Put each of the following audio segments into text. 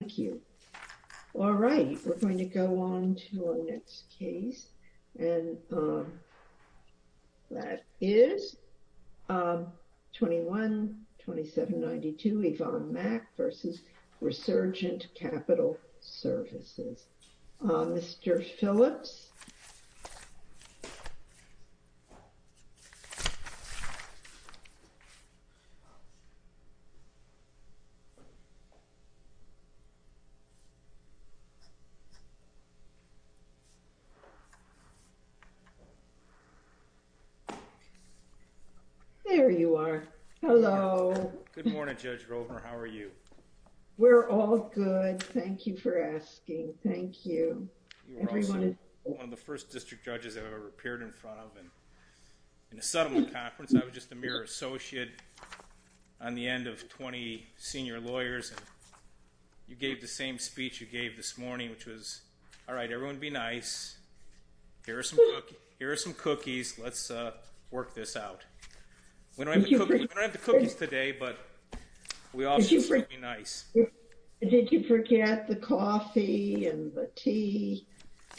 Thank you. All right, we're going to go on to our next case, and that is 21-2792 Yvonne Mack v. Resurgent Capital Services. Mr. Phillips. There you are. Hello. Good morning, Judge Rovner. How are you? We're all good. Thank you for asking. Thank you. You were also one of the first district judges I've ever appeared in front of in a settlement conference. I was just a mere associate on the end of 20 senior lawyers. You gave the same speech you gave this morning, which was, all right, everyone be nice. Here are some cookies. Let's work this out. We don't have the cookies today, but we all should be nice. Did you forget the coffee and the tea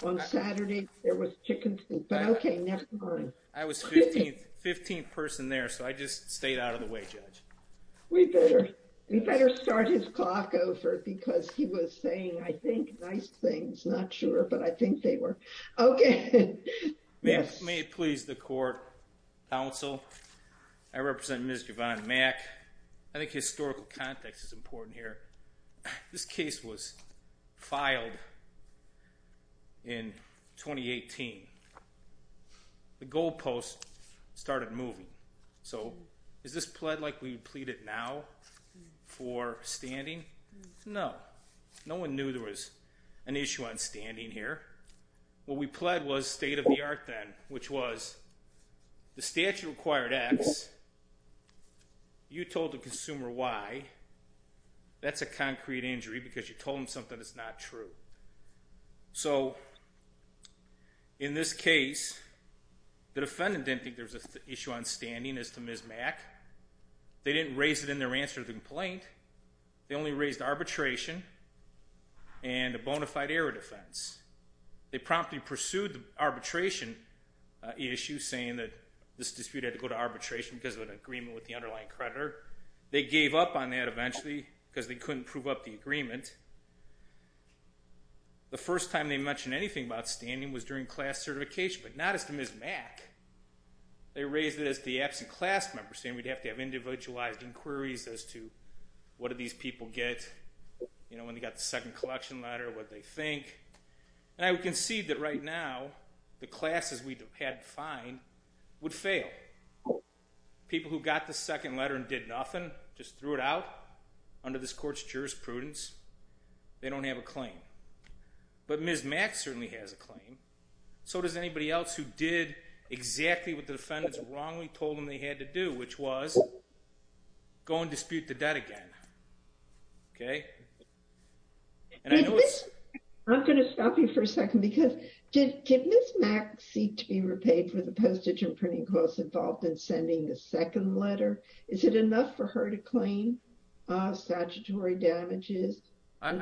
on Saturday? There was chicken soup, but okay, never mind. I was 15th person there, so I just stayed out of the way, Judge. We better start his clock over, because he was saying, I think, nice things. Not sure, but I think they were. Okay. May it please the court, counsel? I represent Ms. Yvonne Mack. I think historical context is important here. This case was filed in 2018. The goalpost started moving. So is this pled like we pleaded now for standing? No. No one knew there was an issue on standing here. What we pled was state of the art then, which was the statute required X. You told the consumer Y. That's a concrete injury because you told him something that's not true. So in this case, the defendant didn't think there was an issue on standing as to Ms. Mack. They didn't raise it in their answer to the complaint. They only raised arbitration and a bona fide error defense. They promptly pursued the arbitration issue saying that this dispute had to go to arbitration because of an agreement with the underlying creditor. They gave up on that eventually because they couldn't prove up the agreement. The first time they mentioned anything about standing was during class certification, but not as to Ms. Mack. They raised it as the absent class member saying we'd have to have individualized inquiries as to what do these people get, you know, when they got the second collection letter, what they think. And I would concede that right now the classes we had defined would fail. People who got the second letter and did nothing, just threw it out under this court's jurisprudence, they don't have a claim. But Ms. Mack certainly has a claim. So does anybody else who did exactly what the defendants wrongly told them they had to do, which was go and dispute the debt again. Okay? I'm going to stop you for a second because did Ms. Mack seek to be repaid for the postage and was it enough for her to claim statutory damages? And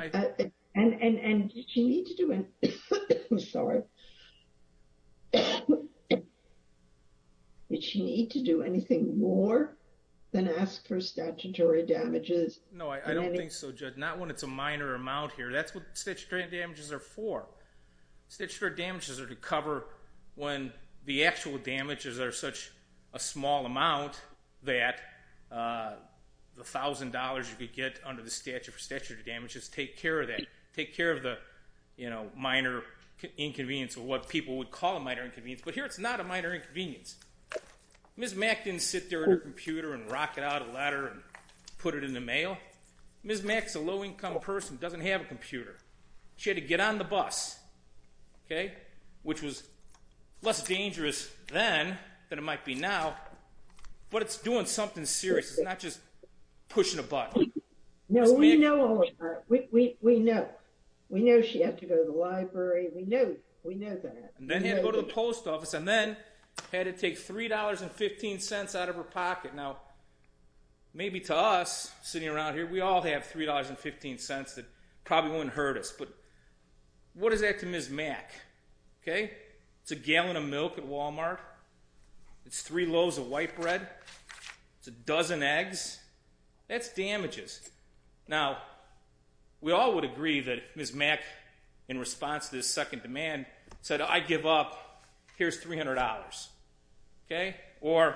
did she need to do anything more than ask for statutory damages? No, I don't think so, Judge. Not when it's a minor amount here. That's what statutory damages are for. Statutory damages are to cover when the actual damages are such a small amount that the $1,000 you could get under the statute for statutory damages, take care of that. Take care of the, you know, minor inconvenience or what people would call a minor inconvenience. But here it's not a minor inconvenience. Ms. Mack didn't sit there at her computer and rock it out a letter and put it in the mail. Ms. Mack's a low-income person, doesn't have a computer. She had to get on the bus. Okay? Which was less dangerous then than it might be now. But it's doing something serious. It's not just pushing a button. No, we know all about it. We know. We know she had to go to the library. We know. We know that. And then had to go to the post office and then had to take $3.15 out of her pocket. Now, maybe to us, sitting around here, we all have $3.15 that probably wouldn't hurt us. But what is that to Ms. Mack? Okay? It's a gallon of milk at Walmart. It's three loaves of white bread. It's a dozen eggs. That's damages. Now, we all would agree that Ms. Mack, in response to this second demand, said, I give up. Here's $300. Okay? Or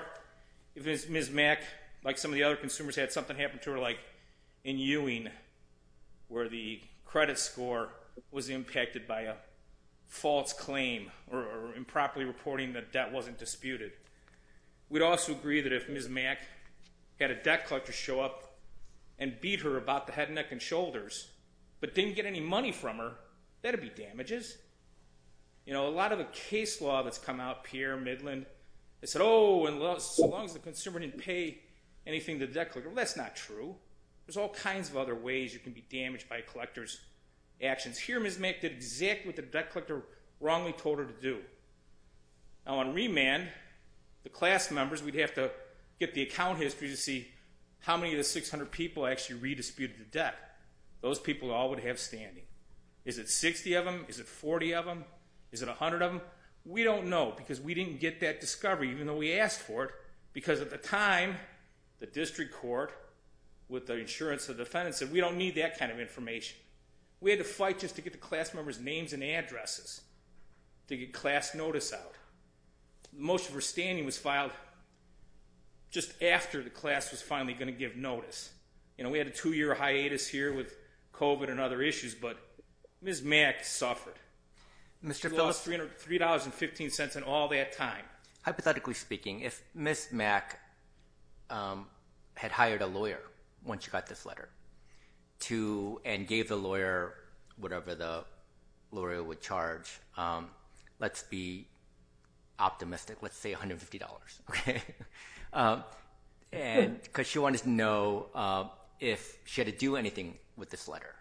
if Ms. Mack, like some of the other consumers had something happen to her, like in Ewing where the credit score was impacted by a false claim or improperly reporting that debt wasn't disputed. We'd also agree that if Ms. Mack had a debt collector show up and beat her about the head, neck, and shoulders, but didn't get any money from her, that would be damages. You know, a lot of the case law that's come out, Pierre Midland, they said, oh, so long as the consumer didn't pay anything to the debt collector. Well, that's not true. There's all kinds of other ways you can be damaged by a collector's actions. Here, Ms. Mack did exactly what the debt collector wrongly told her to do. Now, on remand, the class members, we'd have to get the account history to see how many of the 600 people actually redisputed the debt. Those people all would have standing. Is it 60 of them? Is it 40 of them? Is it 100 of them? We don't know because we didn't get that discovery, even though we asked for it, because at the time, the district court, with the insurance of defendants, said we don't need that kind of information. We had to fight just to get the class members' names and addresses, to get class notice out. The motion for standing was filed just after the class was finally going to give notice. You know, we had a two-year hiatus here with COVID and other issues, but Ms. Mack suffered. She lost $3.15 and all that time. Hypothetically speaking, if Ms. Mack had hired a lawyer once she got this letter and gave the lawyer whatever the lawyer would charge, let's be optimistic, let's say $150, because she wanted to know if she had to do anything with this letter.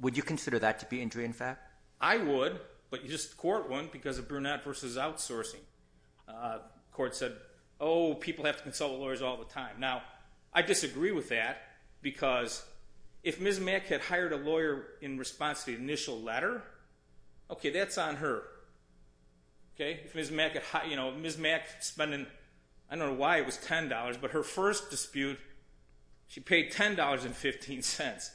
Would you consider that to be injury in fact? I would, but the court wouldn't because of Brunette v. Outsourcing. The court said, oh, people have to consult with lawyers all the time. Now, I disagree with that because if Ms. Mack had hired a lawyer in response to the initial letter, okay, that's on her. If Ms. Mack spent, I don't know why it was $10, but her first dispute, she paid $10.15.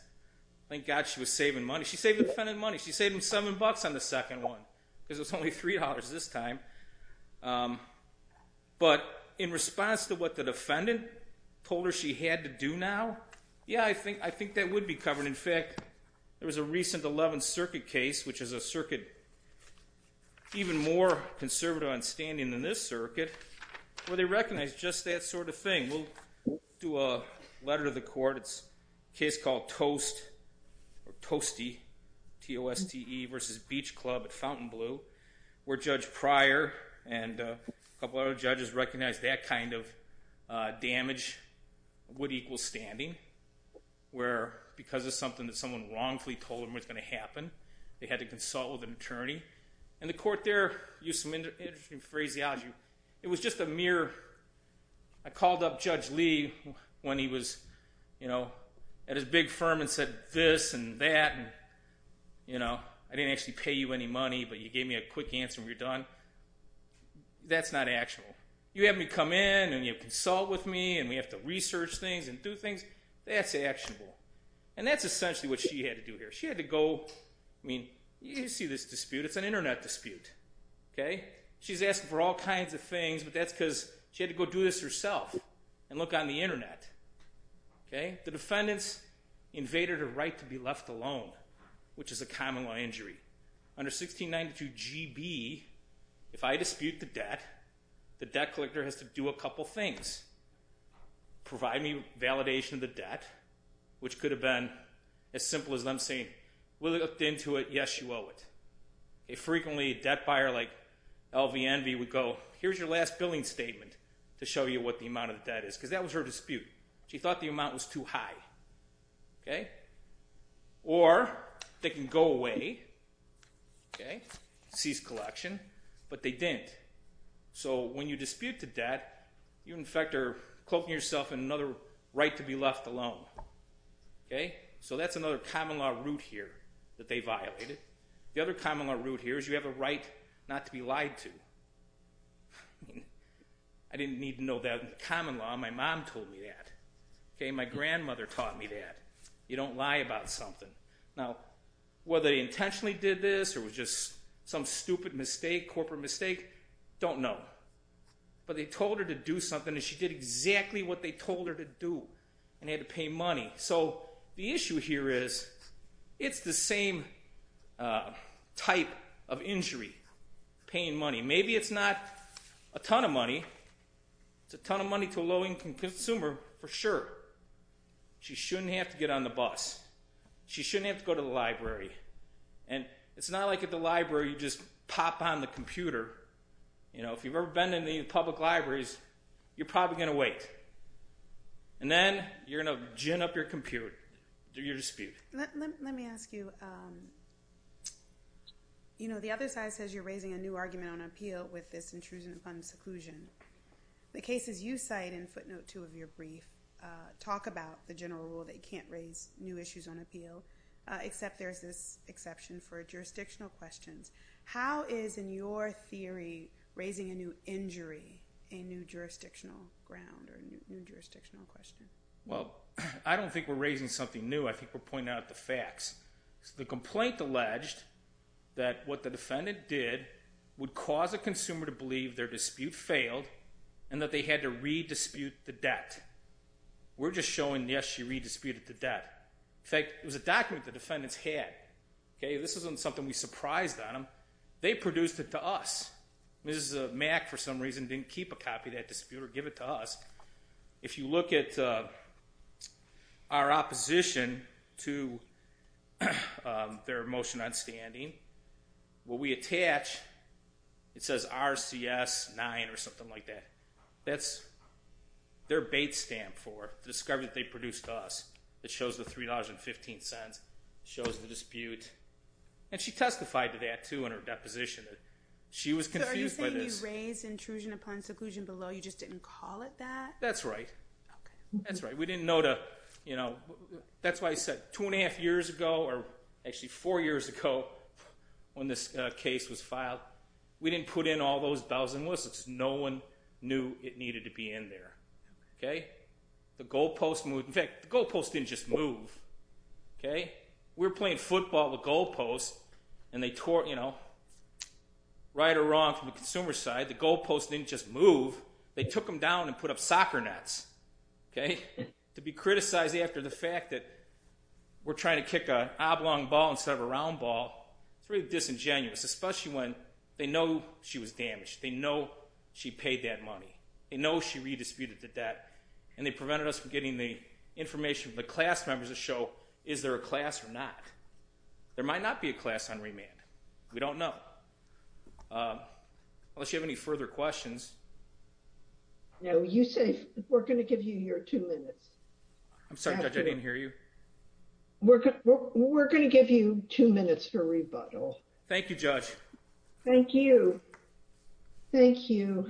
Thank God she was saving money. She saved the defendant money. She saved him $7 on the second one because it was only $3 this time. But in response to what the defendant told her she had to do now, yeah, I think that would be covered. In fact, there was a recent 11th Circuit case, which is a circuit even more conservative on standing than this circuit, where they recognized just that sort of thing. We'll do a letter to the court. It's a case called Toast, or Toasty, T-O-S-T-E v. Beach Club at Fountain Blue, where Judge Pryor and a couple other judges recognized that kind of damage would equal standing, where because of something that someone wrongfully told them was going to happen, they had to consult with an attorney. And the court there used some interesting phraseology. It was just a mere, I called up Judge Lee when he was at his big firm and said this and that, and I didn't actually pay you any money, but you gave me a quick answer when you're done. That's not actionable. You have me come in, and you consult with me, and we have to research things and do things. That's actionable. And that's essentially what she had to do here. She had to go, I mean, you see this dispute. It's an Internet dispute. She's asking for all kinds of things, but that's because she had to go do this herself and look on the Internet. The defendants invaded her right to be left alone, which is a common-law injury. Under 1692 G.B., if I dispute the debt, the debt collector has to do a couple things. Provide me validation of the debt, which could have been as simple as them saying, We looked into it. Yes, you owe it. Frequently, a debt buyer like L.V. Envy would go, here's your last billing statement to show you what the amount of debt is, because that was her dispute. She thought the amount was too high. Or they can go away, cease collection, but they didn't. So when you dispute the debt, you, in fact, are cloaking yourself in another right to be left alone. So that's another common-law root here that they violated. The other common-law root here is you have a right not to be lied to. I didn't need to know that in common law. My mom told me that. My grandmother taught me that. You don't lie about something. Now, whether they intentionally did this or it was just some stupid mistake, corporate mistake, don't know. But they told her to do something, and she did exactly what they told her to do and had to pay money. So the issue here is it's the same type of injury, paying money. Maybe it's not a ton of money. It's a ton of money to a low-income consumer for sure. She shouldn't have to get on the bus. She shouldn't have to go to the library. And it's not like at the library you just pop on the computer. If you've ever been in the public libraries, you're probably going to wait. And then you're going to gin up your dispute. Let me ask you, you know, the other side says you're raising a new argument on appeal with this intrusion upon seclusion. The cases you cite in footnote 2 of your brief talk about the general rule that you can't raise new issues on appeal, except there's this exception for jurisdictional questions. How is, in your theory, raising a new injury a new jurisdictional ground or a new jurisdictional question? Well, I don't think we're raising something new. I think we're pointing out the facts. The complaint alleged that what the defendant did would cause a consumer to believe their dispute failed and that they had to re-dispute the debt. We're just showing, yes, she re-disputed the debt. In fact, it was a document the defendants had. Okay? This isn't something we surprised on them. They produced it to us. Mrs. Mack, for some reason, didn't keep a copy of that dispute or give it to us. If you look at our opposition to their motion on standing, what we attach, it says RCS 9 or something like that. That's their bait stamp for discovering that they produced to us. It shows the $3.15. It shows the dispute. And she testified to that, too, in her deposition. She was confused by this. So are you saying you raised intrusion upon seclusion below? You just didn't call it that? That's right. Okay. That's right. We didn't know to, you know. That's why I said two and a half years ago, or actually four years ago, when this case was filed, we didn't put in all those bells and whistles. No one knew it needed to be in there. Okay? The goalpost moved. In fact, the goalpost didn't just move. Okay? We were playing football at the goalpost, and they tore, you know, right or wrong from the consumer side. The goalpost didn't just move. They took them down and put up soccer nets. Okay? To be criticized after the fact that we're trying to kick an oblong ball instead of a round ball, it's really disingenuous, especially when they know she was damaged. They know she paid that money. They know she redisputed the debt, and they prevented us from getting the information from the class members to show is there a class or not. There might not be a class on remand. We don't know. Unless you have any further questions. No. You say we're going to give you your two minutes. I'm sorry, Judge. I didn't hear you. We're going to give you two minutes for rebuttal. Thank you, Judge. Thank you. Thank you.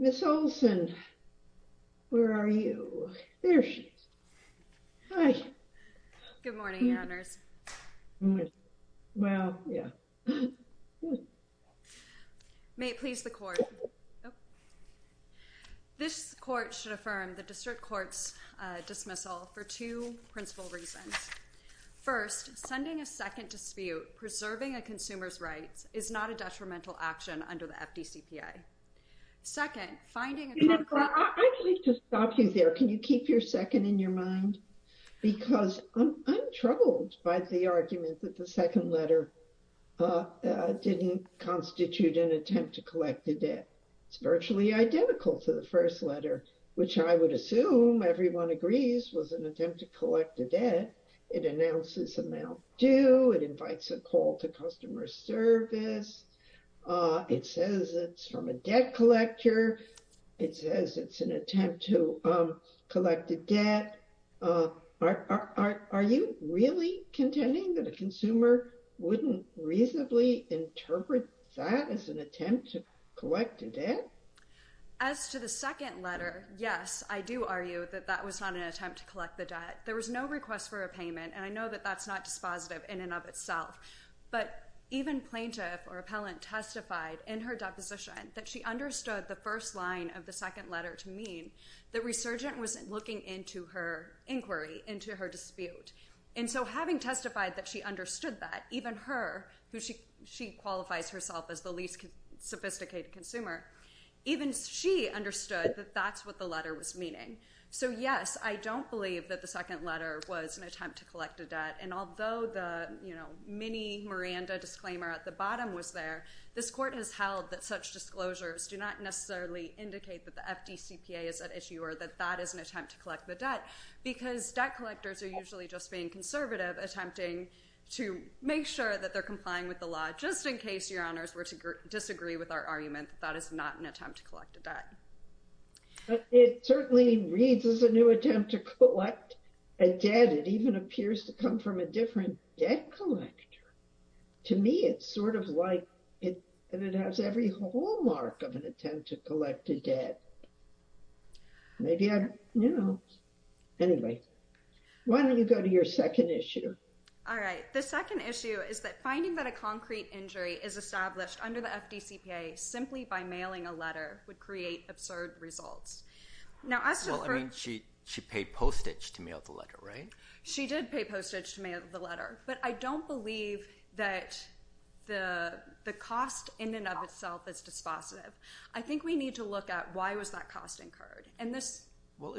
Ms. Olson, where are you? There she is. Hi. Good morning, Your Honors. Well, yeah. May it please the court. This court should affirm the district court's dismissal for two principal reasons. First, sending a second dispute preserving a consumer's rights is not a detrimental action under the FDCPA. Second, finding a- I'd like to stop you there. Can you keep your second in your mind? Because I'm troubled by the argument that the second letter didn't constitute an attempt to collect the debt. It's virtually identical to the first letter, which I would assume everyone agrees was an attempt to collect the debt. It announces amount due. It invites a call to customer service. It says it's from a debt collector. It says it's an attempt to collect the debt. Are you really contending that a consumer wouldn't reasonably interpret that as an attempt to collect a debt? As to the second letter, yes, I do argue that that was not an attempt to collect the debt. There was no request for a payment, and I know that that's not dispositive in and of itself. But even plaintiff or appellant testified in her deposition that she understood the first line of the second letter to mean that resurgent was looking into her inquiry, into her dispute. And so having testified that she understood that, even her, who she qualifies herself as the least sophisticated consumer, even she understood that that's what the letter was meaning. So, yes, I don't believe that the second letter was an attempt to collect the debt. And although the mini Miranda disclaimer at the bottom was there, this court has held that such disclosures do not necessarily indicate that the FDCPA is at issue, or that that is an attempt to collect the debt, because debt collectors are usually just being conservative, attempting to make sure that they're complying with the law, just in case your honors were to disagree with our argument that that is not an attempt to collect a debt. But it certainly reads as a new attempt to collect a debt. It even appears to come from a different debt collector. To me, it's sort of like it has every hallmark of an attempt to collect a debt. Maybe I don't know. Anyway, why don't you go to your second issue? All right. The second issue is that finding that a concrete injury is established under the FDCPA simply by mailing a letter would create absurd results. Well, I mean, she paid postage to mail the letter, right? She did pay postage to mail the letter. But I don't believe that the cost in and of itself is dispositive. I think we need to look at why was that cost incurred. Well,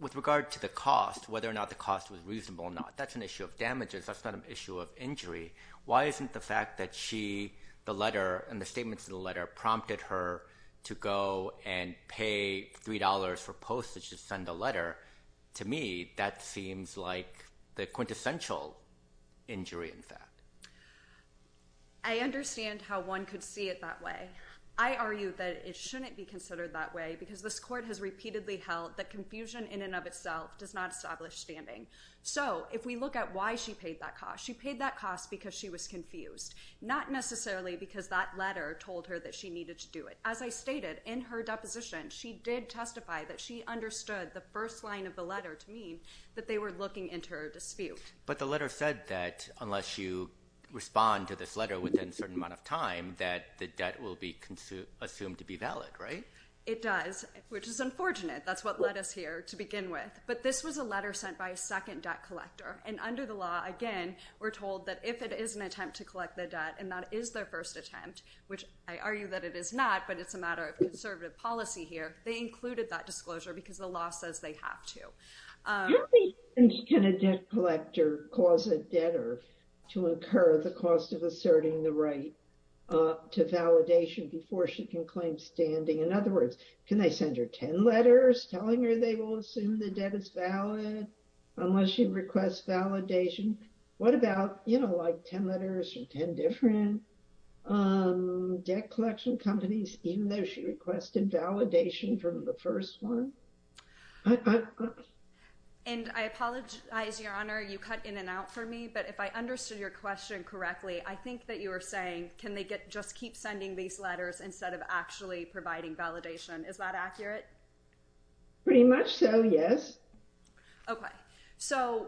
with regard to the cost, whether or not the cost was reasonable or not, that's an issue of damages. That's not an issue of injury. Why isn't the fact that she, the letter and the statements in the letter prompted her to go and pay $3 for postage to send a letter? To me, that seems like the quintessential injury, in fact. I understand how one could see it that way. I argue that it shouldn't be considered that way because this court has repeatedly held that confusion in and of itself does not establish standing. So if we look at why she paid that cost, she paid that cost because she was confused, not necessarily because that letter told her that she needed to do it. As I stated, in her deposition, she did testify that she understood the first line of the letter to mean that they were looking into her dispute. But the letter said that unless you respond to this letter within a certain amount of time, that the debt will be assumed to be valid, right? It does, which is unfortunate. That's what led us here to begin with. But this was a letter sent by a second debt collector. And under the law, again, we're told that if it is an attempt to collect the debt and that is their first attempt, which I argue that it is not, but it's a matter of conservative policy here, they included that disclosure because the law says they have to. Can a debt collector cause a debtor to incur the cost of asserting the right to validation before she can claim standing? In other words, can they send her 10 letters telling her they will assume the debt is valid unless she requests validation? What about, you know, like 10 letters from 10 different debt collection companies, even though she requested validation from the first one? And I apologize, Your Honor, you cut in and out for me. But if I understood your question correctly, I think that you were saying, can they just keep sending these letters instead of actually providing validation? Is that accurate? Pretty much so, yes. Okay. So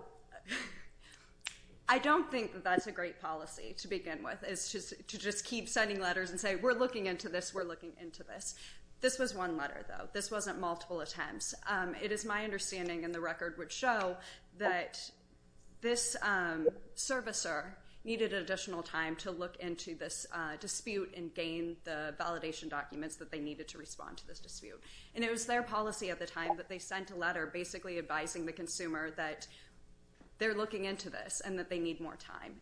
I don't think that's a great policy to begin with, is to just keep sending letters and say, we're looking into this, we're looking into this. This was one letter, though. This wasn't multiple attempts. It is my understanding, and the record would show, that this servicer needed additional time to look into this dispute and gain the validation documents that they needed to respond to this dispute. And it was their policy at the time that they sent a letter basically advising the consumer that they're looking into this and that they need more time.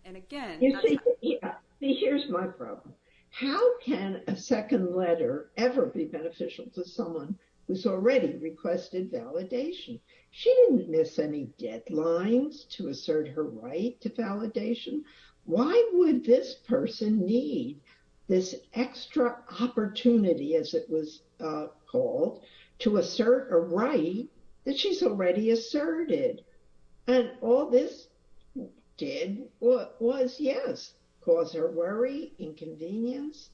Here's my problem. How can a second letter ever be beneficial to someone who's already requested validation? She didn't miss any deadlines to assert her right to validation. Why would this person need this extra opportunity, as it was called, to assert a right that she's already asserted? And all this did was, yes, cause her worry, inconvenience,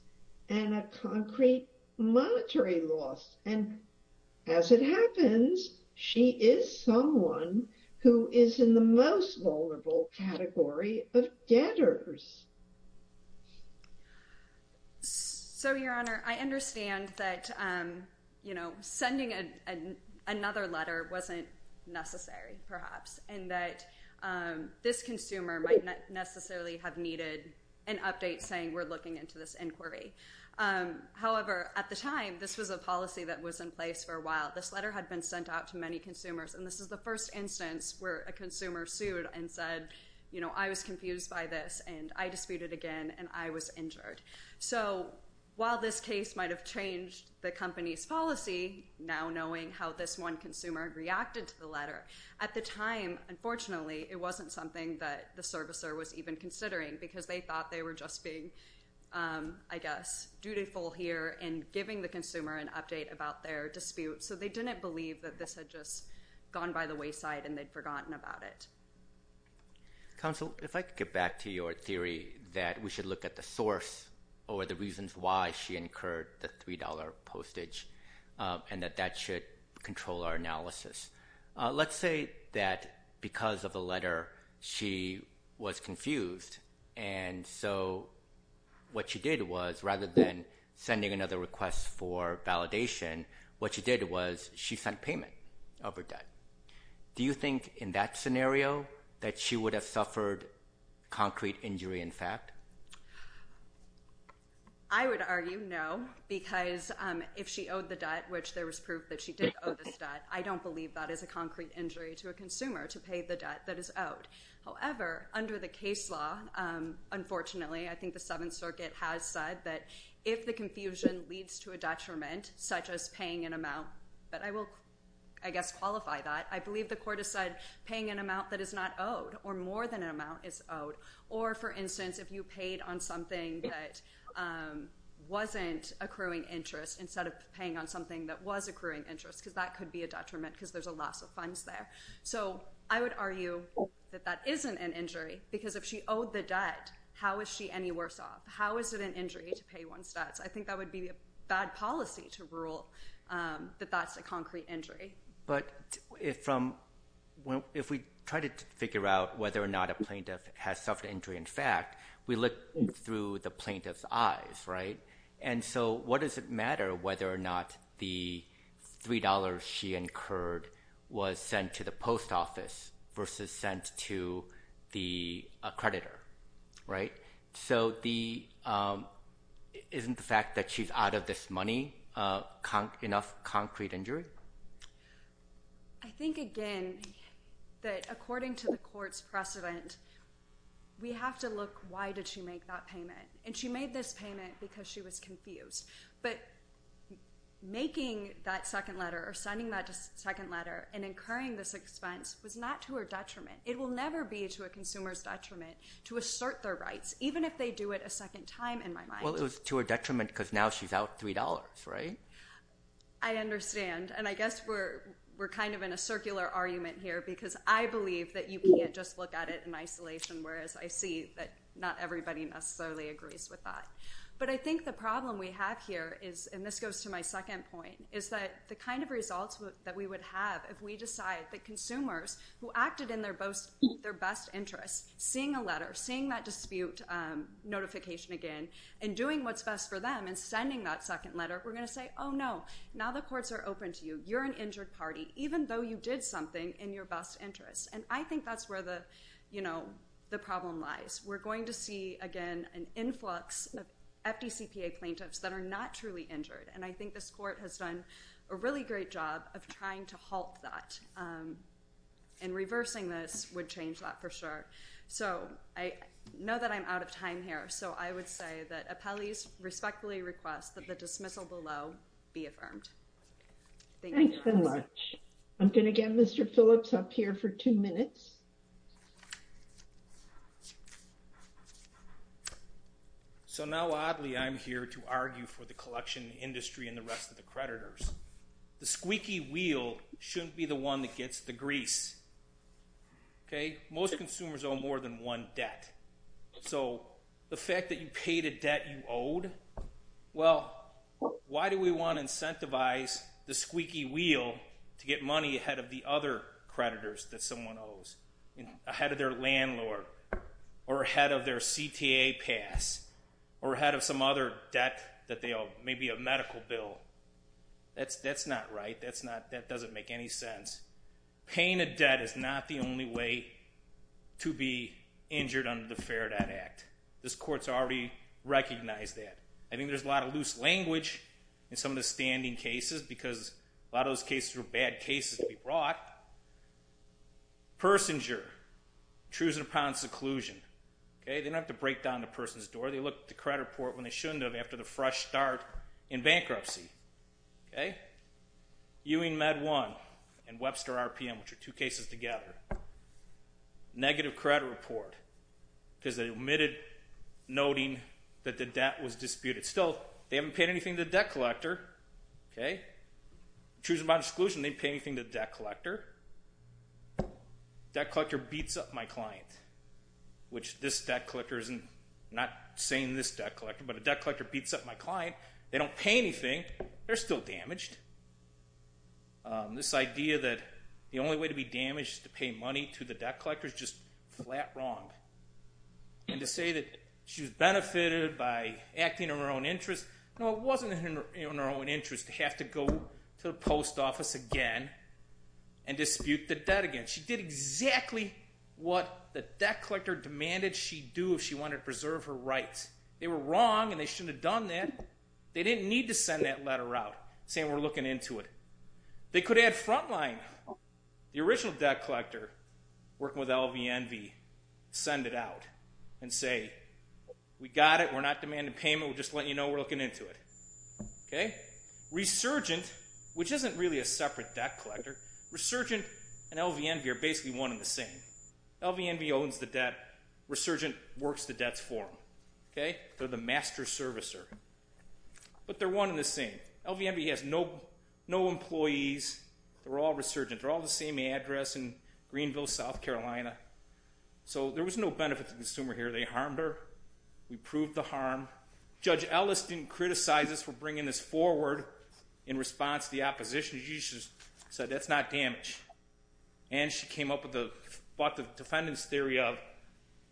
and a concrete monetary loss. And as it happens, she is someone who is in the most vulnerable category of debtors. So, Your Honor, I understand that sending another letter wasn't necessary, perhaps. And that this consumer might not necessarily have needed an update saying, we're looking into this inquiry. However, at the time, this was a policy that was in place for a while. This letter had been sent out to many consumers. And this is the first instance where a consumer sued and said, you know, I was confused by this, and I disputed again, and I was injured. So, while this case might have changed the company's policy, now knowing how this one consumer reacted to the letter, at the time, unfortunately, it wasn't something that the servicer was even considering, because they thought they were just being, I guess, dutiful here in giving the consumer an update about their dispute. So they didn't believe that this had just gone by the wayside and they'd forgotten about it. Counsel, if I could get back to your theory that we should look at the source or the reasons why she incurred the $3 postage, and that that should control our analysis. Let's say that because of the letter, she was confused. And so what she did was, rather than sending another request for validation, what she did was she sent payment of her debt. Do you think in that scenario that she would have suffered concrete injury, in fact? I would argue no, because if she owed the debt, which there was proof that she did owe this debt, I don't believe that is a concrete injury to a consumer to pay the debt that is owed. However, under the case law, unfortunately, I think the Seventh Circuit has said that if the confusion leads to a detriment, such as paying an amount, but I will, I guess, qualify that. I believe the court has said paying an amount that is not owed or more than an amount is owed. Or, for instance, if you paid on something that wasn't accruing interest instead of paying on something that was accruing interest, because that could be a detriment because there's a loss of funds there. So I would argue that that isn't an injury because if she owed the debt, how is she any worse off? How is it an injury to pay one's debts? I think that would be a bad policy to rule that that's a concrete injury. But if we try to figure out whether or not a plaintiff has suffered injury, in fact, we look through the plaintiff's eyes, right? And so what does it matter whether or not the $3 she incurred was sent to the post office versus sent to the accreditor, right? So isn't the fact that she's out of this money enough concrete injury? I think, again, that according to the court's precedent, we have to look why did she make that payment. And she made this payment because she was confused. But making that second letter or sending that second letter and incurring this expense was not to her detriment. It will never be to a consumer's detriment to assert their rights, even if they do it a second time, in my mind. Well, it was to her detriment because now she's out $3, right? I understand. And I guess we're kind of in a circular argument here because I believe that you can't just look at it in isolation, whereas I see that not everybody necessarily agrees with that. But I think the problem we have here is, and this goes to my second point, is that the kind of results that we would have if we decide that consumers who acted in their best interest, seeing a letter, seeing that dispute notification again, and doing what's best for them and sending that second letter, we're going to say, oh, no, now the courts are open to you. You're an injured party, even though you did something in your best interest. And I think that's where the problem lies. We're going to see, again, an influx of FDCPA plaintiffs that are not truly injured. And I think this court has done a really great job of trying to halt that. And reversing this would change that for sure. So I know that I'm out of time here. So I would say that appellees respectfully request that the dismissal below be affirmed. Thank you. Thanks so much. I'm going to get Mr. Phillips up here for two minutes. So now, oddly, I'm here to argue for the collection industry and the rest of the creditors. The squeaky wheel shouldn't be the one that gets the grease. Okay? Most consumers owe more than one debt. So the fact that you paid a debt you owed, well, why do we want to incentivize the squeaky wheel to get money ahead of the other Ahead of their landlord. Or ahead of their CTA pass. Or ahead of some other debt that they owe. Maybe a medical bill. That's not right. That doesn't make any sense. Paying a debt is not the only way to be injured under the Fair Debt Act. This court's already recognized that. I think there's a lot of loose language in some of the standing cases because a lot of those cases were bad cases to be brought. Persinger, choosing upon seclusion. Okay? They don't have to break down the person's door. They look at the credit report when they shouldn't have after the fresh start in bankruptcy. Okay? Ewing Med 1 and Webster RPM, which are two cases together. Negative credit report. Because they omitted noting that the debt was disputed. Still, they haven't paid anything to the debt collector. Okay? Choosing upon seclusion, they didn't pay anything to the debt collector. Debt collector beats up my client. Which this debt collector isn't. I'm not saying this debt collector, but a debt collector beats up my client. They don't pay anything. They're still damaged. This idea that the only way to be damaged is to pay money to the debt collector is just flat wrong. And to say that she was benefited by acting in her own interest. No, it wasn't in her own interest to have to go to the post office again and dispute the debt again. She did exactly what the debt collector demanded she do if she wanted to preserve her rights. They were wrong and they shouldn't have done that. They didn't need to send that letter out saying we're looking into it. They could have front line. The original debt collector working with LVNV send it out and say we got it. We're not demanding payment. We're just letting you know we're looking into it. Resurgent, which isn't really a separate debt collector. Resurgent and LVNV are basically one and the same. LVNV owns the debt. Resurgent works the debts for them. They're the master servicer. But they're one and the same. LVNV has no employees. They're all resurgent. They're all the same address in Greenville, South Carolina. So there was no benefit to the consumer here. They harmed her. We proved the harm. Judge Ellis didn't criticize us for bringing this forward in response to the opposition. She just said that's not damage. And she came up with the defendant's theory of,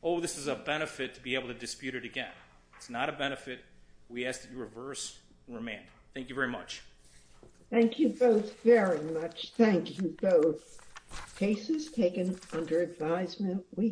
oh, this is a benefit to be able to dispute it again. It's not a benefit. We ask that you reverse and remand. Thank you very much. Thank you both very much. Thank you both. Cases taken under advisement.